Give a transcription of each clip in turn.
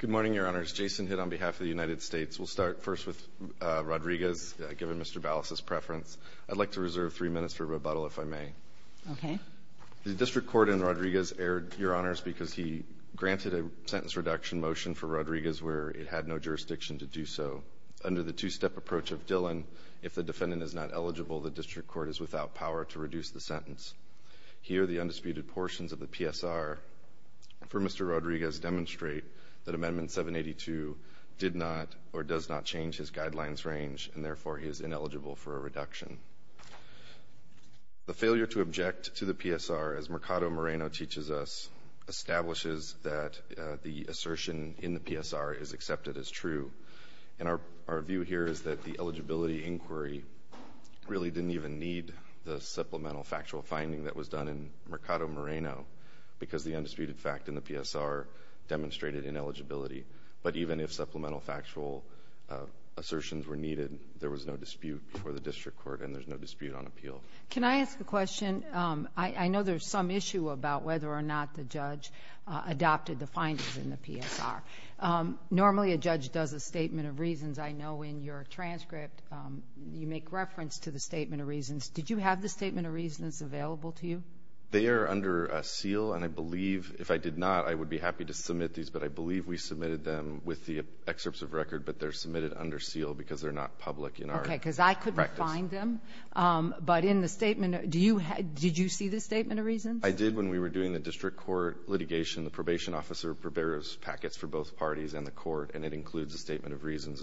Good morning, Your Honors. Jason Hitt on behalf of the United States. We'll start first with Rodriguez, given Mr. Ballas' preference. I'd like to reserve three minutes for rebuttal, if I may. Okay. The District Court in Rodriguez erred, Your Honors, because he granted a sentence reduction motion for Rodriguez where it had no jurisdiction to do so. Under the two-step approach of Dillon, if the defendant is not eligible, the District Court is without power to reduce the sentence. Here the undisputed portions of the PSR for Mr. Rodriguez demonstrate that Amendment 782 did not or does not change his guidelines range, and therefore he is ineligible for a reduction. The failure to object to the PSR, as Mercado Moreno teaches us, establishes that the assertion in the PSR is accepted as true. And our view here is that the eligibility inquiry really didn't even need the supplemental factual finding that was done in Mercado Moreno because the undisputed fact in the PSR demonstrated ineligibility. But even if supplemental factual assertions were needed, there was no dispute for the District Court and there's no dispute on appeal. Can I ask a question? I know there's some issue about whether or not the judge adopted the findings in the PSR. Normally a judge does a statement of reasons. I know in your transcript you make reference to the statement of reasons. Did you have the statement of reasons available to you? They are under seal and I believe, if I did not, I would be happy to submit these, but I believe we submitted them with the excerpts of record, but they're submitted under seal because they're not public in our practice. Okay, because I couldn't find them. But in the statement, do you have, did you see the statement of reasons? I did when we were doing the District Court litigation. The probation officer prepares packets for both parties and the court and it includes a statement of reasons.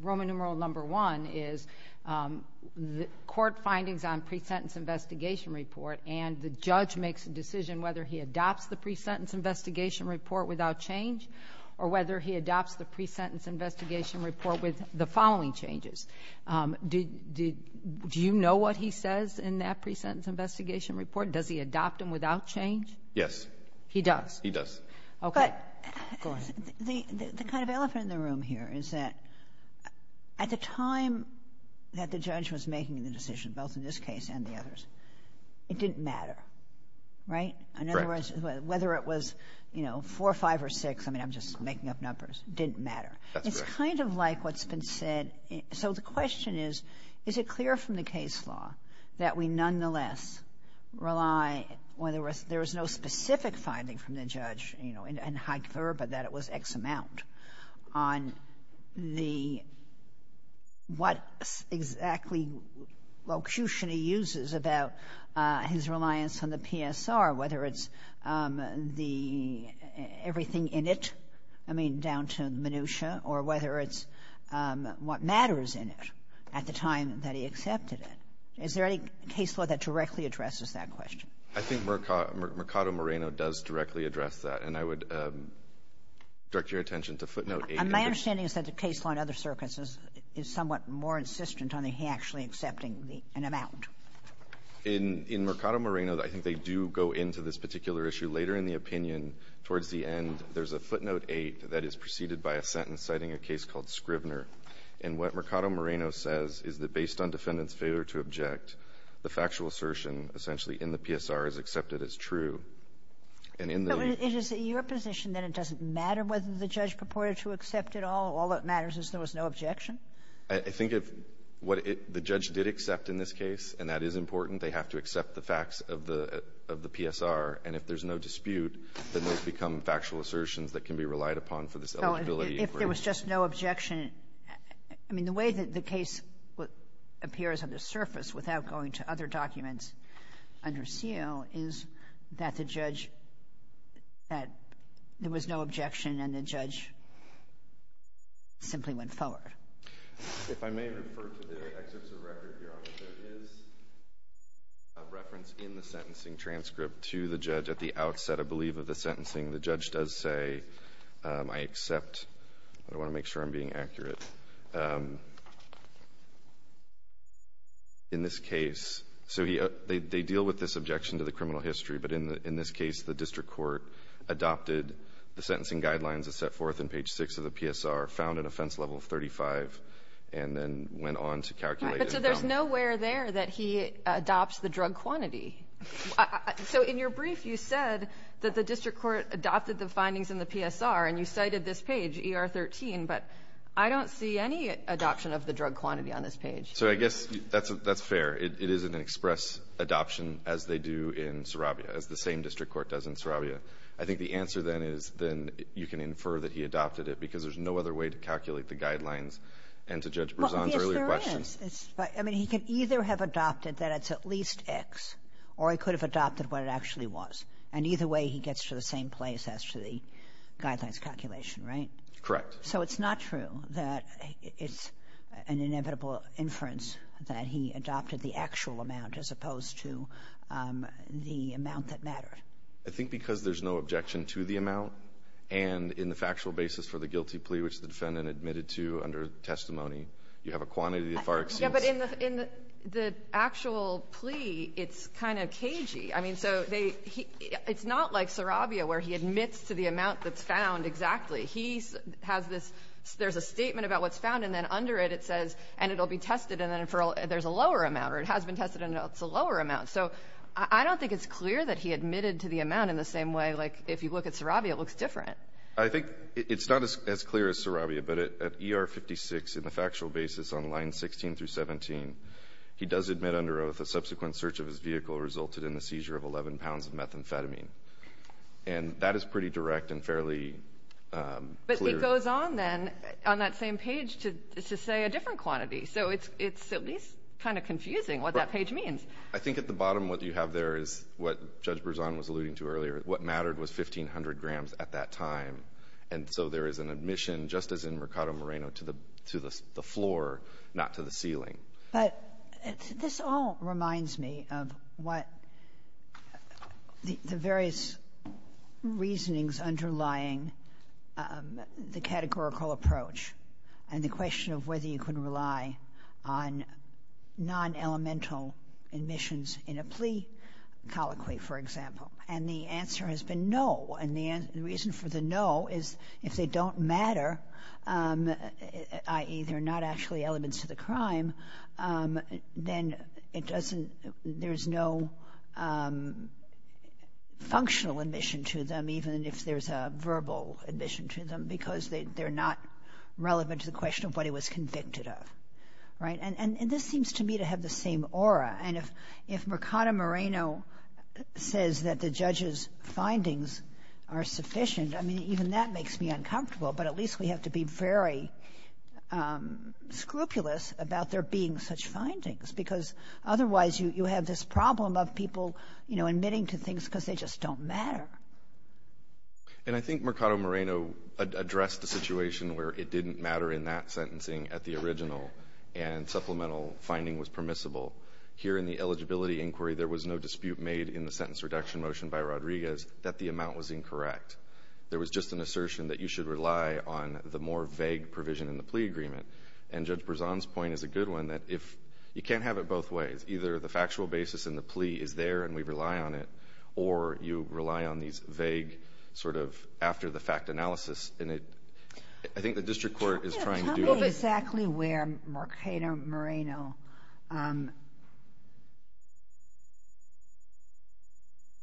Roman numeral number one is the court findings on pre-sentence investigation report and the judge makes a decision whether he adopts the pre-sentence investigation report without change or whether he adopts the pre-sentence investigation report with the following changes. Do you know what he says in that pre-sentence investigation report? Does he adopt them without change? Yes. He does? He does. Okay. The kind of elephant in the room here is that at the time that the judge was making the decision, both in this case and the others, it didn't matter, right? In other words, whether it was, you know, four, five, or six, I mean, I'm just making up numbers, didn't matter. It's kind of like what's been said, so the question is, is it clear from the case law that we, when there was, there was no specific finding from the judge, you know, in High Clerb that it was X amount on the, what exactly locution he uses about his reliance on the PSR, whether it's the, everything in it, I mean, down to minutia, or whether it's what matters in it at the time that he accepted it. Is there any case law that directly addresses that question? I think Mercado Moreno does directly address that. And I would direct your attention to footnote 8. And my understanding is that the case law in other circuits is somewhat more insistent on the, he actually accepting the, an amount. In Mercado Moreno, I think they do go into this particular issue later in the opinion. Towards the end, there's a footnote 8 that is preceded by a sentence citing a case called Scrivner. And what Mercado Moreno says is that based on defendant's failure to object, the factual assertion essentially in the PSR is accepted as true. And in the need. So it is your position that it doesn't matter whether the judge purported to accept it all? All that matters is there was no objection? I think if what it, the judge did accept in this case, and that is important, they have to accept the facts of the, of the PSR. And if there's no dispute, then those become factual assertions that can be relied upon for this eligibility. If there was just no objection, I mean, the way that the case appears on the surface without going to other documents under seal is that the judge, that there was no objection and the judge simply went forward. If I may refer to the excerpts of record here, there is a reference in the sentencing transcript to the judge at the outset, I believe, of the sentencing. The judge does say, I accept, I want to make sure I'm being accurate. In this case, so he, they deal with this objection to the criminal history. But in the, in this case, the district court adopted the sentencing guidelines that's set forth in page six of the PSR, found an offense level of 35, and then went on to calculate it. But so there's nowhere there that he adopts the drug quantity. So in your brief, you said that the district court adopted the findings in the PSR, and you cited this page, ER 13. But I don't see any adoption of the drug quantity on this page. So I guess that's, that's fair. It, it is an express adoption as they do in Sarabia, as the same district court does in Sarabia. I think the answer then is, then you can infer that he adopted it because there's no other way to calculate the guidelines. And to Judge Berzon's earlier question. It's, it's, I mean, he could either have adopted that it's at least X, or he could have adopted what it actually was. And either way, he gets to the same place as to the guidelines calculation, right? Correct. So it's not true that it's an inevitable inference that he adopted the actual amount as opposed to the amount that mattered. I think because there's no objection to the amount. And in the factual basis for the guilty plea which the defendant admitted to under testimony. You have a quantity of far exceeding. Yeah, but in the, in the actual plea, it's kind of cagey. I mean, so they, he, it's not like Sarabia where he admits to the amount that's found exactly, he has this, there's a statement about what's found. And then under it, it says, and it'll be tested. And then for, there's a lower amount, or it has been tested and it's a lower amount. So, I don't think it's clear that he admitted to the amount in the same way. Like, if you look at Sarabia, it looks different. I think it's not as clear as Sarabia, but at ER 56, in the factual basis on line 16 through 17, he does admit under oath a subsequent search of his vehicle resulted in the seizure of 11 pounds of methamphetamine, and that is pretty direct and fairly clear. But it goes on then, on that same page to, to say a different quantity. So it's, it's at least kind of confusing what that page means. I think at the bottom what you have there is what Judge Berzon was alluding to at that time. And so there is an admission, just as in Mercado Moreno, to the, to the floor, not to the ceiling. But, this all reminds me of what the various reasonings underlying the categorical approach and the question of whether you can rely on non-elemental admissions in a plea colloquy, for example. And the answer has been no. And the reason for the no is if they don't matter, i.e. they're not actually elements to the crime, then it doesn't, there's no functional admission to them, even if there's a verbal admission to them, because they're not relevant to the question of what he was convicted of. Right? And this seems to me to have the same aura. And if, if Mercado Moreno says that the judge's findings are sufficient, I mean, even that makes me uncomfortable. But at least we have to be very scrupulous about there being such findings. Because otherwise you, you have this problem of people, you know, admitting to things because they just don't matter. And I think Mercado Moreno addressed the situation where it didn't matter in that sentencing at the original and supplemental finding was permissible. Here in the eligibility inquiry, there was no dispute made in the sentence reduction motion by Rodriguez that the amount was incorrect. There was just an assertion that you should rely on the more vague provision in the plea agreement. And Judge Berzon's point is a good one, that if, you can't have it both ways. Either the factual basis in the plea is there and we rely on it, or you rely on these vague, sort of, after the fact analysis. And it, I think the district court is trying to do... Exactly where Mercado Moreno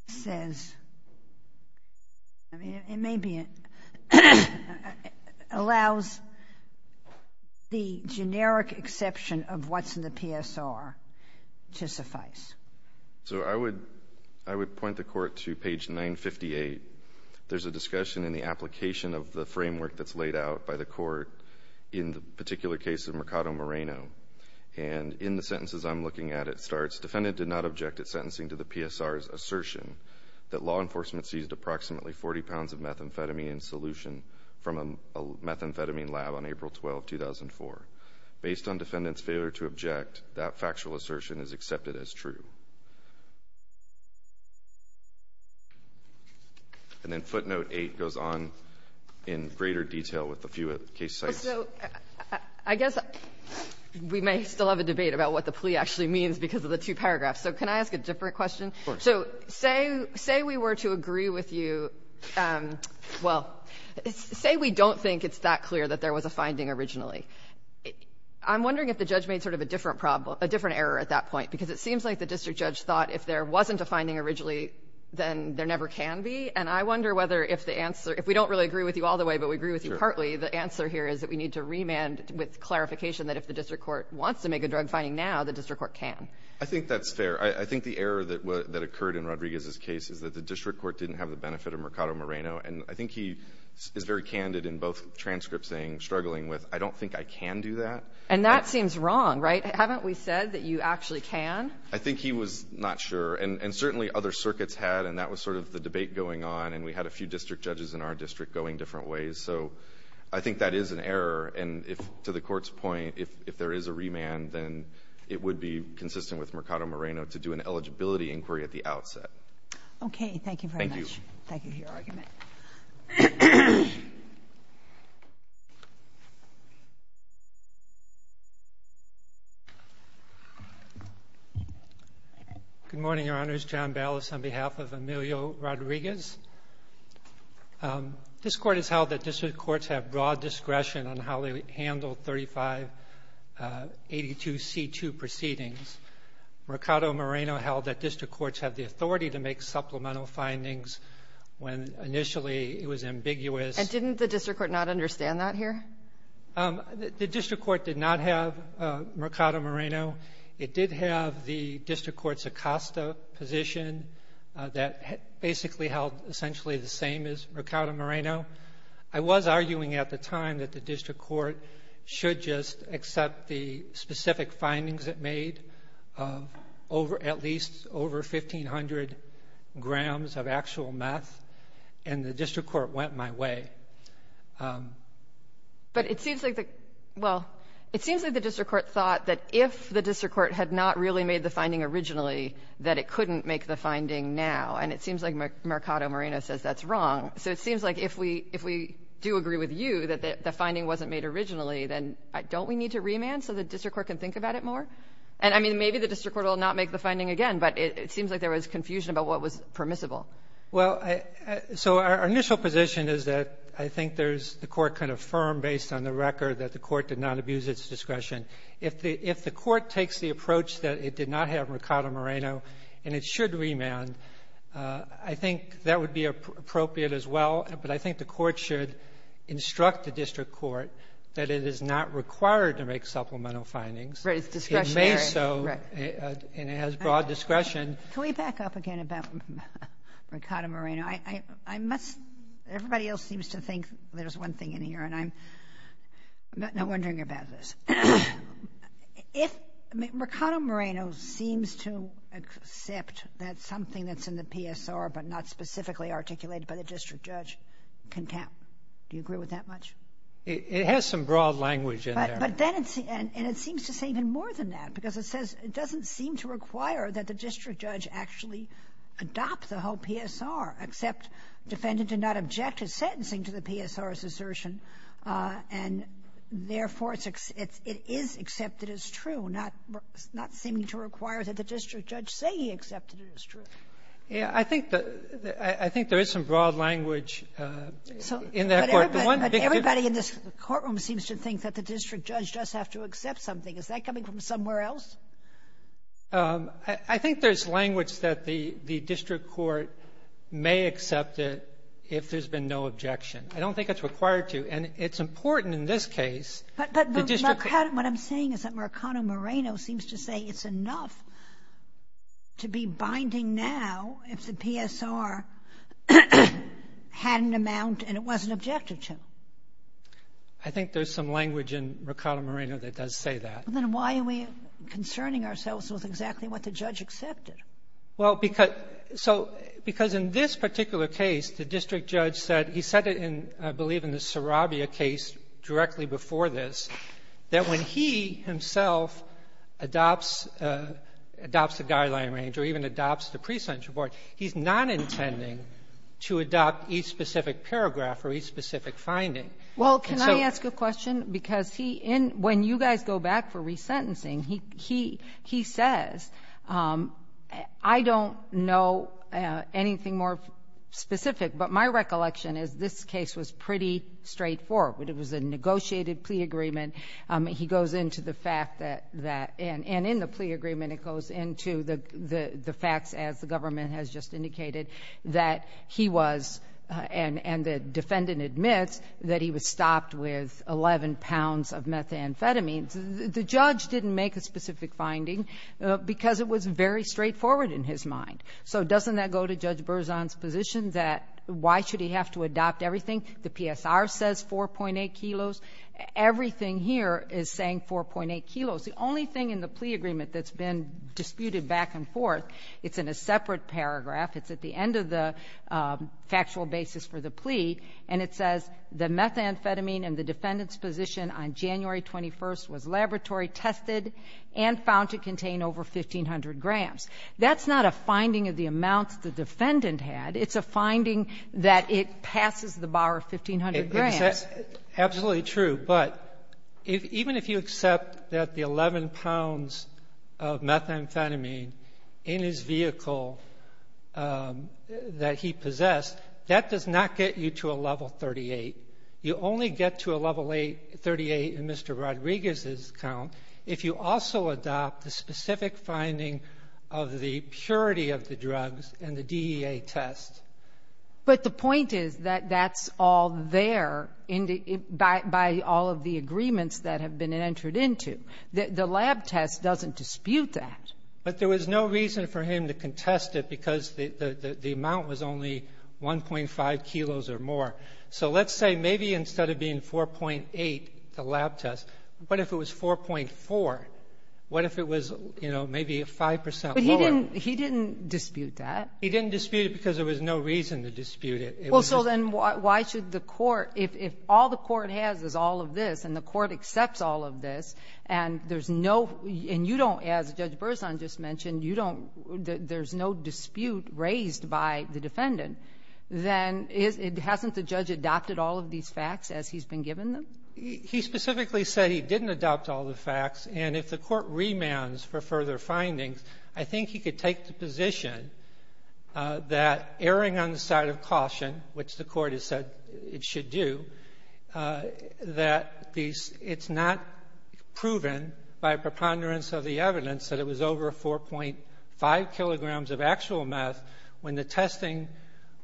says, I mean, it may be, allows the generic exception of what's in the PSR to suffice. So I would, I would point the court to page 958. There's a discussion in the application of the framework that's laid out by the court in the particular case of Mercado Moreno. And in the sentences I'm looking at, it starts, defendant did not object at sentencing to the PSR's assertion that law enforcement seized approximately 40 pounds of methamphetamine in solution from a methamphetamine lab on April 12, 2004. Based on defendant's failure to object, that factual assertion is accepted as true. And then footnote 8 goes on in greater detail with a few case sites. So I guess we may still have a debate about what the plea actually means because of the two paragraphs. So can I ask a different question? Of course. So say, say we were to agree with you, well, say we don't think it's that clear that there was a finding originally. I'm wondering if the judge made, sort of, a different problem, a different error at that point, because it seems like the district judge thought if there wasn't a finding originally, then there never can be. And I wonder whether if the answer, if we don't really agree with you all the way, but we agree with you partly, the answer here is that we need to remand with clarification that if the district court wants to make a drug finding now, the district court can. I think that's fair. I think the error that occurred in Rodriguez's case is that the district court didn't have the benefit of Mercado Moreno. And I think he is very candid in both transcripts saying, struggling with, I don't think I can do that. And that seems wrong, right? Haven't we said that you actually can? I think he was not sure. And certainly other circuits had, and that was sort of the debate going on. And we had a few district judges in our district going different ways. So I think that is an error. And if, to the Court's point, if there is a remand, then it would be consistent with Mercado Moreno to do an eligibility inquiry at the outset. Okay. Thank you very much. Thank you. Thank you for your argument. Good morning, Your Honors. John Ballas on behalf of Emilio Rodriguez. This Court has held that district courts have broad discretion on how they handle 3582C2 proceedings. Mercado Moreno held that district courts have the authority to make supplemental findings when initially it was ambiguous. And didn't the district court not understand that here? The district court did not have Mercado Moreno. It did have the district court's Acosta position that basically held essentially the same as Mercado Moreno. I was arguing at the time that the district court should just accept the specific findings it made of at least over 1,500 grams of actual meth, and the district court went my way. But it seems like the, well, it seems like the district court thought that if the district court had not really made the finding originally, that it couldn't make the finding now. And it seems like Mercado Moreno says that's wrong. So it seems like if we do agree with you that the finding wasn't made originally, then don't we need to remand so the district court can think about it more? And, I mean, maybe the district court will not make the finding again, but it seems like there was confusion about what was permissible. Well, so our initial position is that I think there's the court can affirm based on the record that the court did not abuse its discretion. If the court takes the approach that it did not have Mercado Moreno and it should remand, I think that would be appropriate as well. But I think the court should instruct the district court that it is not required to make supplemental findings. Right, it's discretionary. It may so, and it has broad discretion. Can we back up again about Mercado Moreno? I must, everybody else seems to think there's one thing in here, and I'm not wondering about this. If Mercado Moreno seems to accept that something that's in the PSR but not specifically articulated by the district judge, do you agree with that much? It has some broad language in there. But then it's, and it seems to say even more than that, because it says it doesn't seem to require that the district judge actually adopt the whole PSR, except defendant did not object to sentencing to the PSR's assertion, and therefore, it's, it is accepted as true, not, not seeming to require that the district judge say he accepted it as true. Yeah, I think the, I think there is some broad language in that court. But everybody in this courtroom seems to think that the district judge does have to accept something. Is that coming from somewhere else? I think there's language that the, the district court may accept it if there's been no objection. I don't think it's required to. And it's important in this case, the district court But Mercado, what I'm saying is that Mercado Moreno seems to say it's enough to be binding now if the PSR had an amount and it wasn't objective to. I think there's some language in Mercado Moreno that does say that. Well, then why are we concerning ourselves with exactly what the judge accepted? Well, because, so, because in this particular case, the district judge said, he said it in, I believe in the Sarabia case directly before this, that when he himself adopts, adopts the guideline range or even adopts the pre-sentence report, he's not intending to adopt each specific paragraph or each specific finding. Well, can I ask a question? Because he in, when you guys go back for resentencing, he, he, he says, I don't know anything more specific, but my recollection is this case was pretty straightforward. It was a negotiated plea agreement. He goes into the fact that, that, and, and in the plea agreement, it goes into the, the facts as the government has just indicated that he was, and, and the defendant admits that he was stopped with 11 pounds of methamphetamine. The judge didn't make a specific finding because it was very straightforward in his mind. So doesn't that go to Judge Berzon's position that why should he have to adopt everything? The PSR says 4.8 kilos, everything here is saying 4.8 kilos. The only thing in the plea agreement that's been disputed back and forth, it's in a separate paragraph, it's at the end of the factual basis for the plea, and it says the methamphetamine and the defendant's position on January 21st was laboratory tested and found to contain over 1500 grams. That's not a finding of the amounts the defendant had. It's a finding that it passes the bar of 1500 grams. Absolutely true, but even if you accept that the 11 pounds of methamphetamine in his vehicle that he possessed, that does not get you to a level 38. You only get to a level 38 in Mr. Rodriguez's count if you also adopt the specific finding of the purity of the drugs and the DEA test. But the point is that that's all there by all of the agreements that have been entered into. The lab test doesn't dispute that. But there was no reason for him to contest it because the amount was only 1.5 kilos or more. So let's say maybe instead of being 4.8, the lab test, what if it was 4.4? What if it was, you know, maybe 5 percent more? But he didn't dispute that. He didn't dispute it because there was no reason to dispute it. Well, so then why should the court, if all the court has is all of this, and the court accepts all of this, and there's no, and you don't, as Judge Berzon just mentioned, you don't, there's no dispute raised by the defendant, then hasn't the judge adopted all of these facts as he's been given them? He specifically said he didn't adopt all the facts. And if the court remands for further findings, I think he could take the position that erring on the side of caution, which the court has said it should do, that it's not proven by preponderance of the evidence that it was over 4.5 kilograms of actual meth when the testing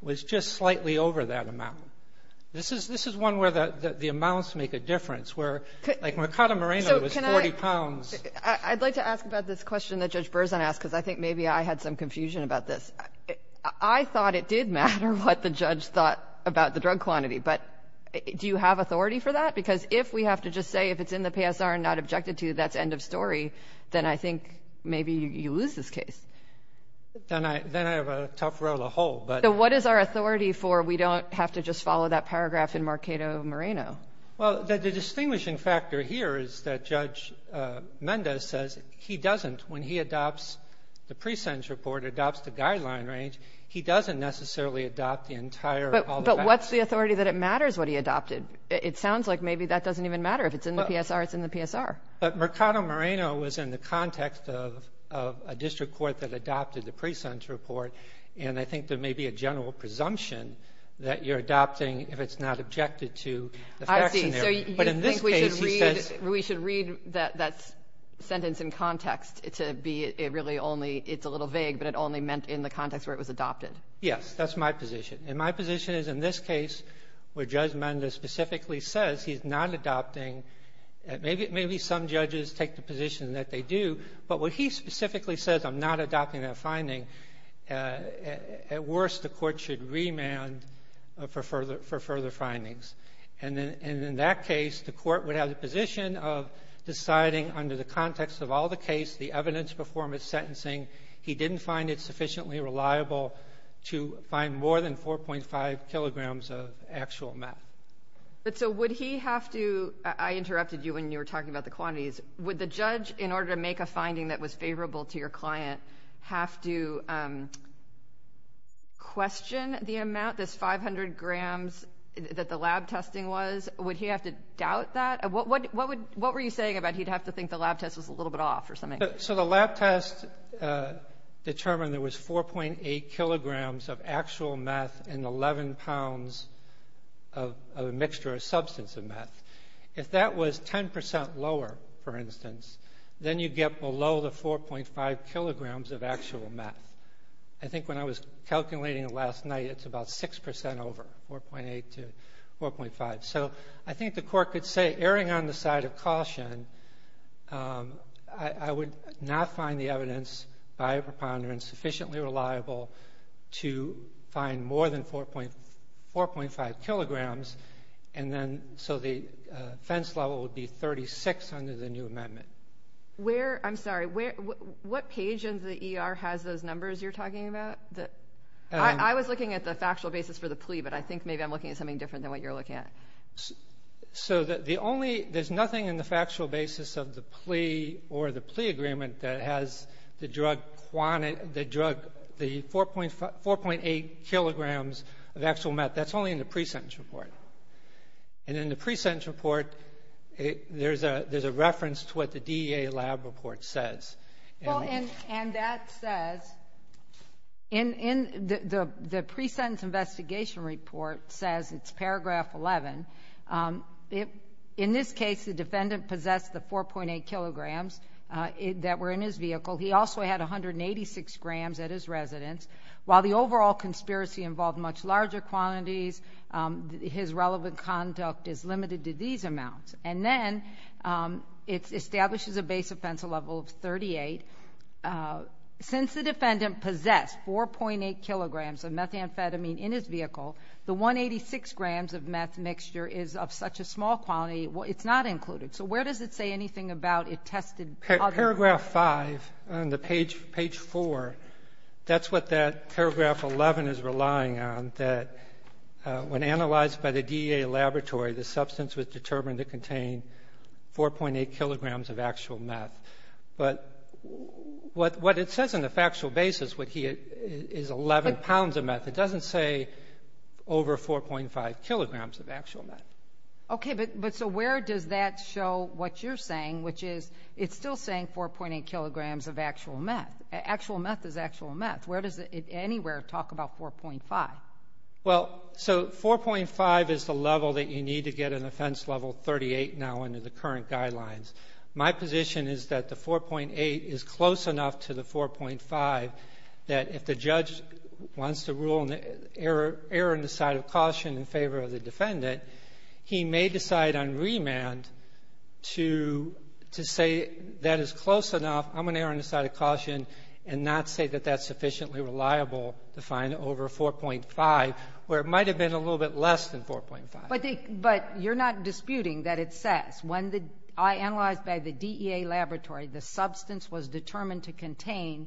was just slightly over that amount. This is one where the amounts make a difference, where, like Mercado Moreno was So can I, I'd like to ask about this question that Judge Berzon asked, because I think maybe I had some confusion about this. I thought it did matter what the judge thought about the drug quantity. But do you have authority for that? Because if we have to just say if it's in the PSR and not objected to, that's end of story, then I think maybe you lose this case. Then I have a tough row to hold. So what is our authority for we don't have to just follow that paragraph in Mercado Moreno? Well, the distinguishing factor here is that Judge Mendes says he doesn't, when he adopts the pre-sentence report, adopts the guideline range, he doesn't necessarily adopt the entire all the facts. But what's the authority that it matters what he adopted? It sounds like maybe that doesn't even matter. If it's in the PSR, it's in the PSR. But Mercado Moreno was in the context of a district court that adopted the general presumption that you're adopting if it's not objected to. I see. So you think we should read that sentence in context to be it really only, it's a little vague, but it only meant in the context where it was adopted. Yes. That's my position. And my position is in this case where Judge Mendes specifically says he's not adopting, maybe some judges take the position that they do, but when he specifically says I'm not adopting that finding, at worst the court should remand for further findings. And in that case, the court would have the position of deciding under the context of all the case, the evidence before his sentencing, he didn't find it sufficiently reliable to find more than 4.5 kilograms of actual math. But so would he have to, I interrupted you when you were talking about the measurable to your client, have to question the amount, this 500 grams that the lab testing was, would he have to doubt that? What were you saying about he'd have to think the lab test was a little bit off or something? So the lab test determined there was 4.8 kilograms of actual math and 11 pounds of a mixture or substance of math. If that was 10% lower, for instance, then you get below the 4.5 kilograms of actual math. I think when I was calculating it last night, it's about 6% over, 4.8 to 4.5. So I think the court could say, erring on the side of caution, I would not find the evidence by a preponderance sufficiently reliable to find more than 4.5 kilograms. So the offense level would be 36 under the new amendment. I'm sorry, what page in the ER has those numbers you're talking about? I was looking at the factual basis for the plea, but I think maybe I'm looking at something different than what you're looking at. So there's nothing in the factual basis of the plea or the plea agreement that has the 4.8 kilograms of actual math. That's only in the pre-sentence report. And in the pre-sentence report, there's a reference to what the DEA lab report says. Well, and that says in the pre-sentence investigation report says, it's paragraph 11, in this case, the defendant possessed the 4.8 kilograms that were in his vehicle. He also had 186 grams at his residence. While the overall conspiracy involved much larger quantities, his relevant conduct is limited to these amounts. And then it establishes a base offense level of 38. Since the defendant possessed 4.8 kilograms of methamphetamine in his vehicle, the 186 grams of meth mixture is of such a small quality, it's not included. So where does it say anything about it tested other than that? Paragraph 5 on the page 4, that's what that paragraph 11 is relying on, that when analyzed by the DEA laboratory, the substance was determined to contain 4.8 kilograms of actual meth. But what it says in the factual basis is 11 pounds of meth. It doesn't say over 4.5 kilograms of actual meth. Okay. But so where does that show what you're saying, which is it's still saying 4.8 kilograms of actual meth. Actual meth is actual meth. Where does it anywhere talk about 4.5? Well, so 4.5 is the level that you need to get an offense level 38 now under the current guidelines. My position is that the 4.8 is close enough to the 4.5 that if the judge wants to err on the side of caution in favor of the defendant, he may decide on remand to say that is close enough, I'm going to err on the side of caution and not say that that's sufficiently reliable to find over 4.5, where it might have been a little bit less than 4.5. But you're not disputing that it says, when analyzed by the DEA laboratory, the substance was determined to contain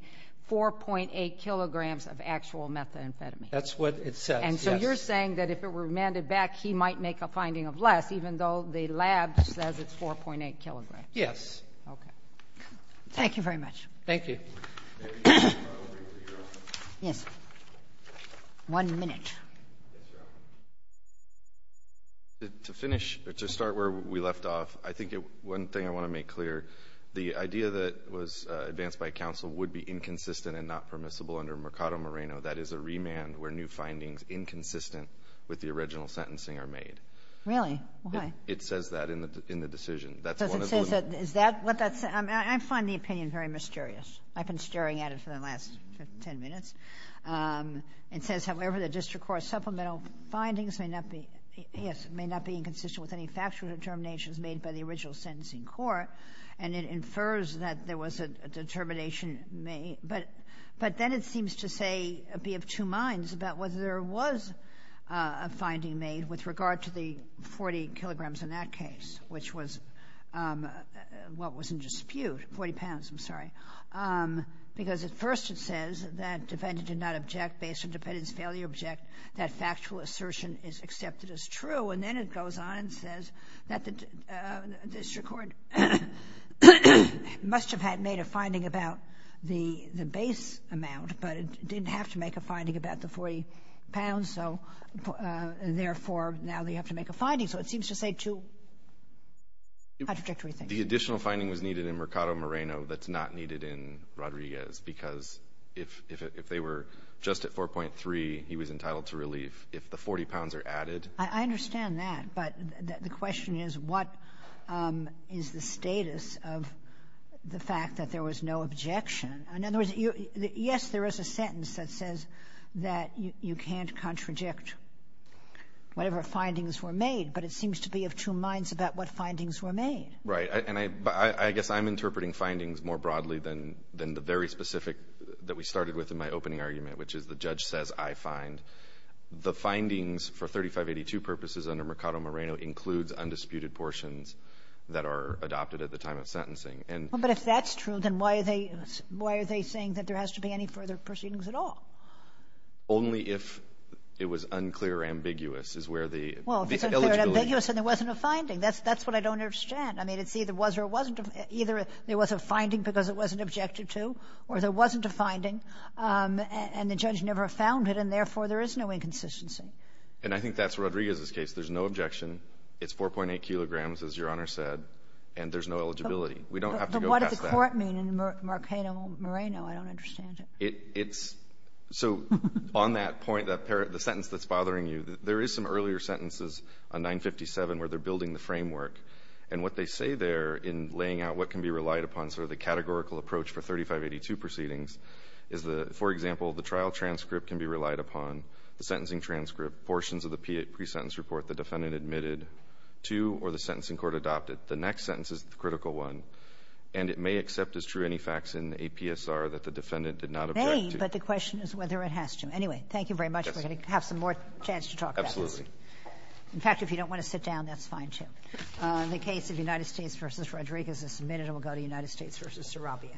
4.8 kilograms of actual methamphetamine. That's what it says, yes. And so you're saying that if it were remanded back, he might make a finding of less, even though the lab says it's 4.8 kilograms. Yes. Okay. Thank you very much. Thank you. Yes. One minute. To finish, to start where we left off, I think one thing I want to make clear, the idea that was advanced by counsel would be inconsistent and not permissible under Mercado Moreno. That is a remand where new findings inconsistent with the original sentencing are made. Really? Why? It says that in the decision. Does it say that? I find the opinion very mysterious. I've been staring at it for the last ten minutes. It says, however, the district court's supplemental findings may not be inconsistent with any factual determinations made by the original sentencing court, and it infers that there was a determination made. But then it seems to say, be of two minds about whether there was a finding made with regard to the 40 kilograms in that case, which was what was in dispute, 40 pounds, I'm sorry. Because at first it says that defendant did not object based on defendant's failure to object, that factual assertion is accepted as true. And then it goes on and says that the district court must have had made a finding about the base amount, but it didn't have to make a finding about the 40 pounds, so therefore now they have to make a finding. So it seems to say two contradictory things. The additional finding was needed in Mercado Moreno that's not needed in Rodriguez because if they were just at 4.3, he was entitled to relief. If the 40 pounds are added. I understand that. But the question is what is the status of the fact that there was no objection? In other words, yes, there is a sentence that says that you can't contradict whatever findings were made, but it seems to be of two minds about what findings were made. Right. And I guess I'm interpreting findings more broadly than the very specific that we started with in my opening argument, which is the judge says I find. The findings for 3582 purposes under Mercado Moreno includes undisputed portions that are adopted at the time of sentencing. But if that's true, then why are they saying that there has to be any further proceedings at all? Only if it was unclear or ambiguous is where the eligibility. Well, if it's unclear or ambiguous and there wasn't a finding. That's what I don't understand. I mean, it's either was or it wasn't. Either there was a finding because it wasn't objected to or there wasn't a finding and the judge never found it and therefore there is no inconsistency. And I think that's Rodriguez's case. There's no objection. It's 4.8 kilograms, as Your Honor said, and there's no eligibility. We don't have to go past that. But what does the court mean in Mercado Moreno? I don't understand it. It's so on that point, the sentence that's bothering you, there is some earlier sentences on 957 where they're building the framework. And what they say there in laying out what can be relied upon sort of the categorical approach for 3582 proceedings is the, for example, the trial transcript can be relied upon, the sentencing transcript, portions of the pre-sentence report the defendant admitted to or the sentencing court adopted. The next sentence is the critical one. And it may accept as true any facts in APSR that the defendant did not object to. It may, but the question is whether it has to. Anyway, thank you very much. We're going to have some more chance to talk about this. Absolutely. In fact, if you don't want to sit down, that's fine, too. The case of United States v. Rodriguez is submitted. We'll go to United States v. Sarabia.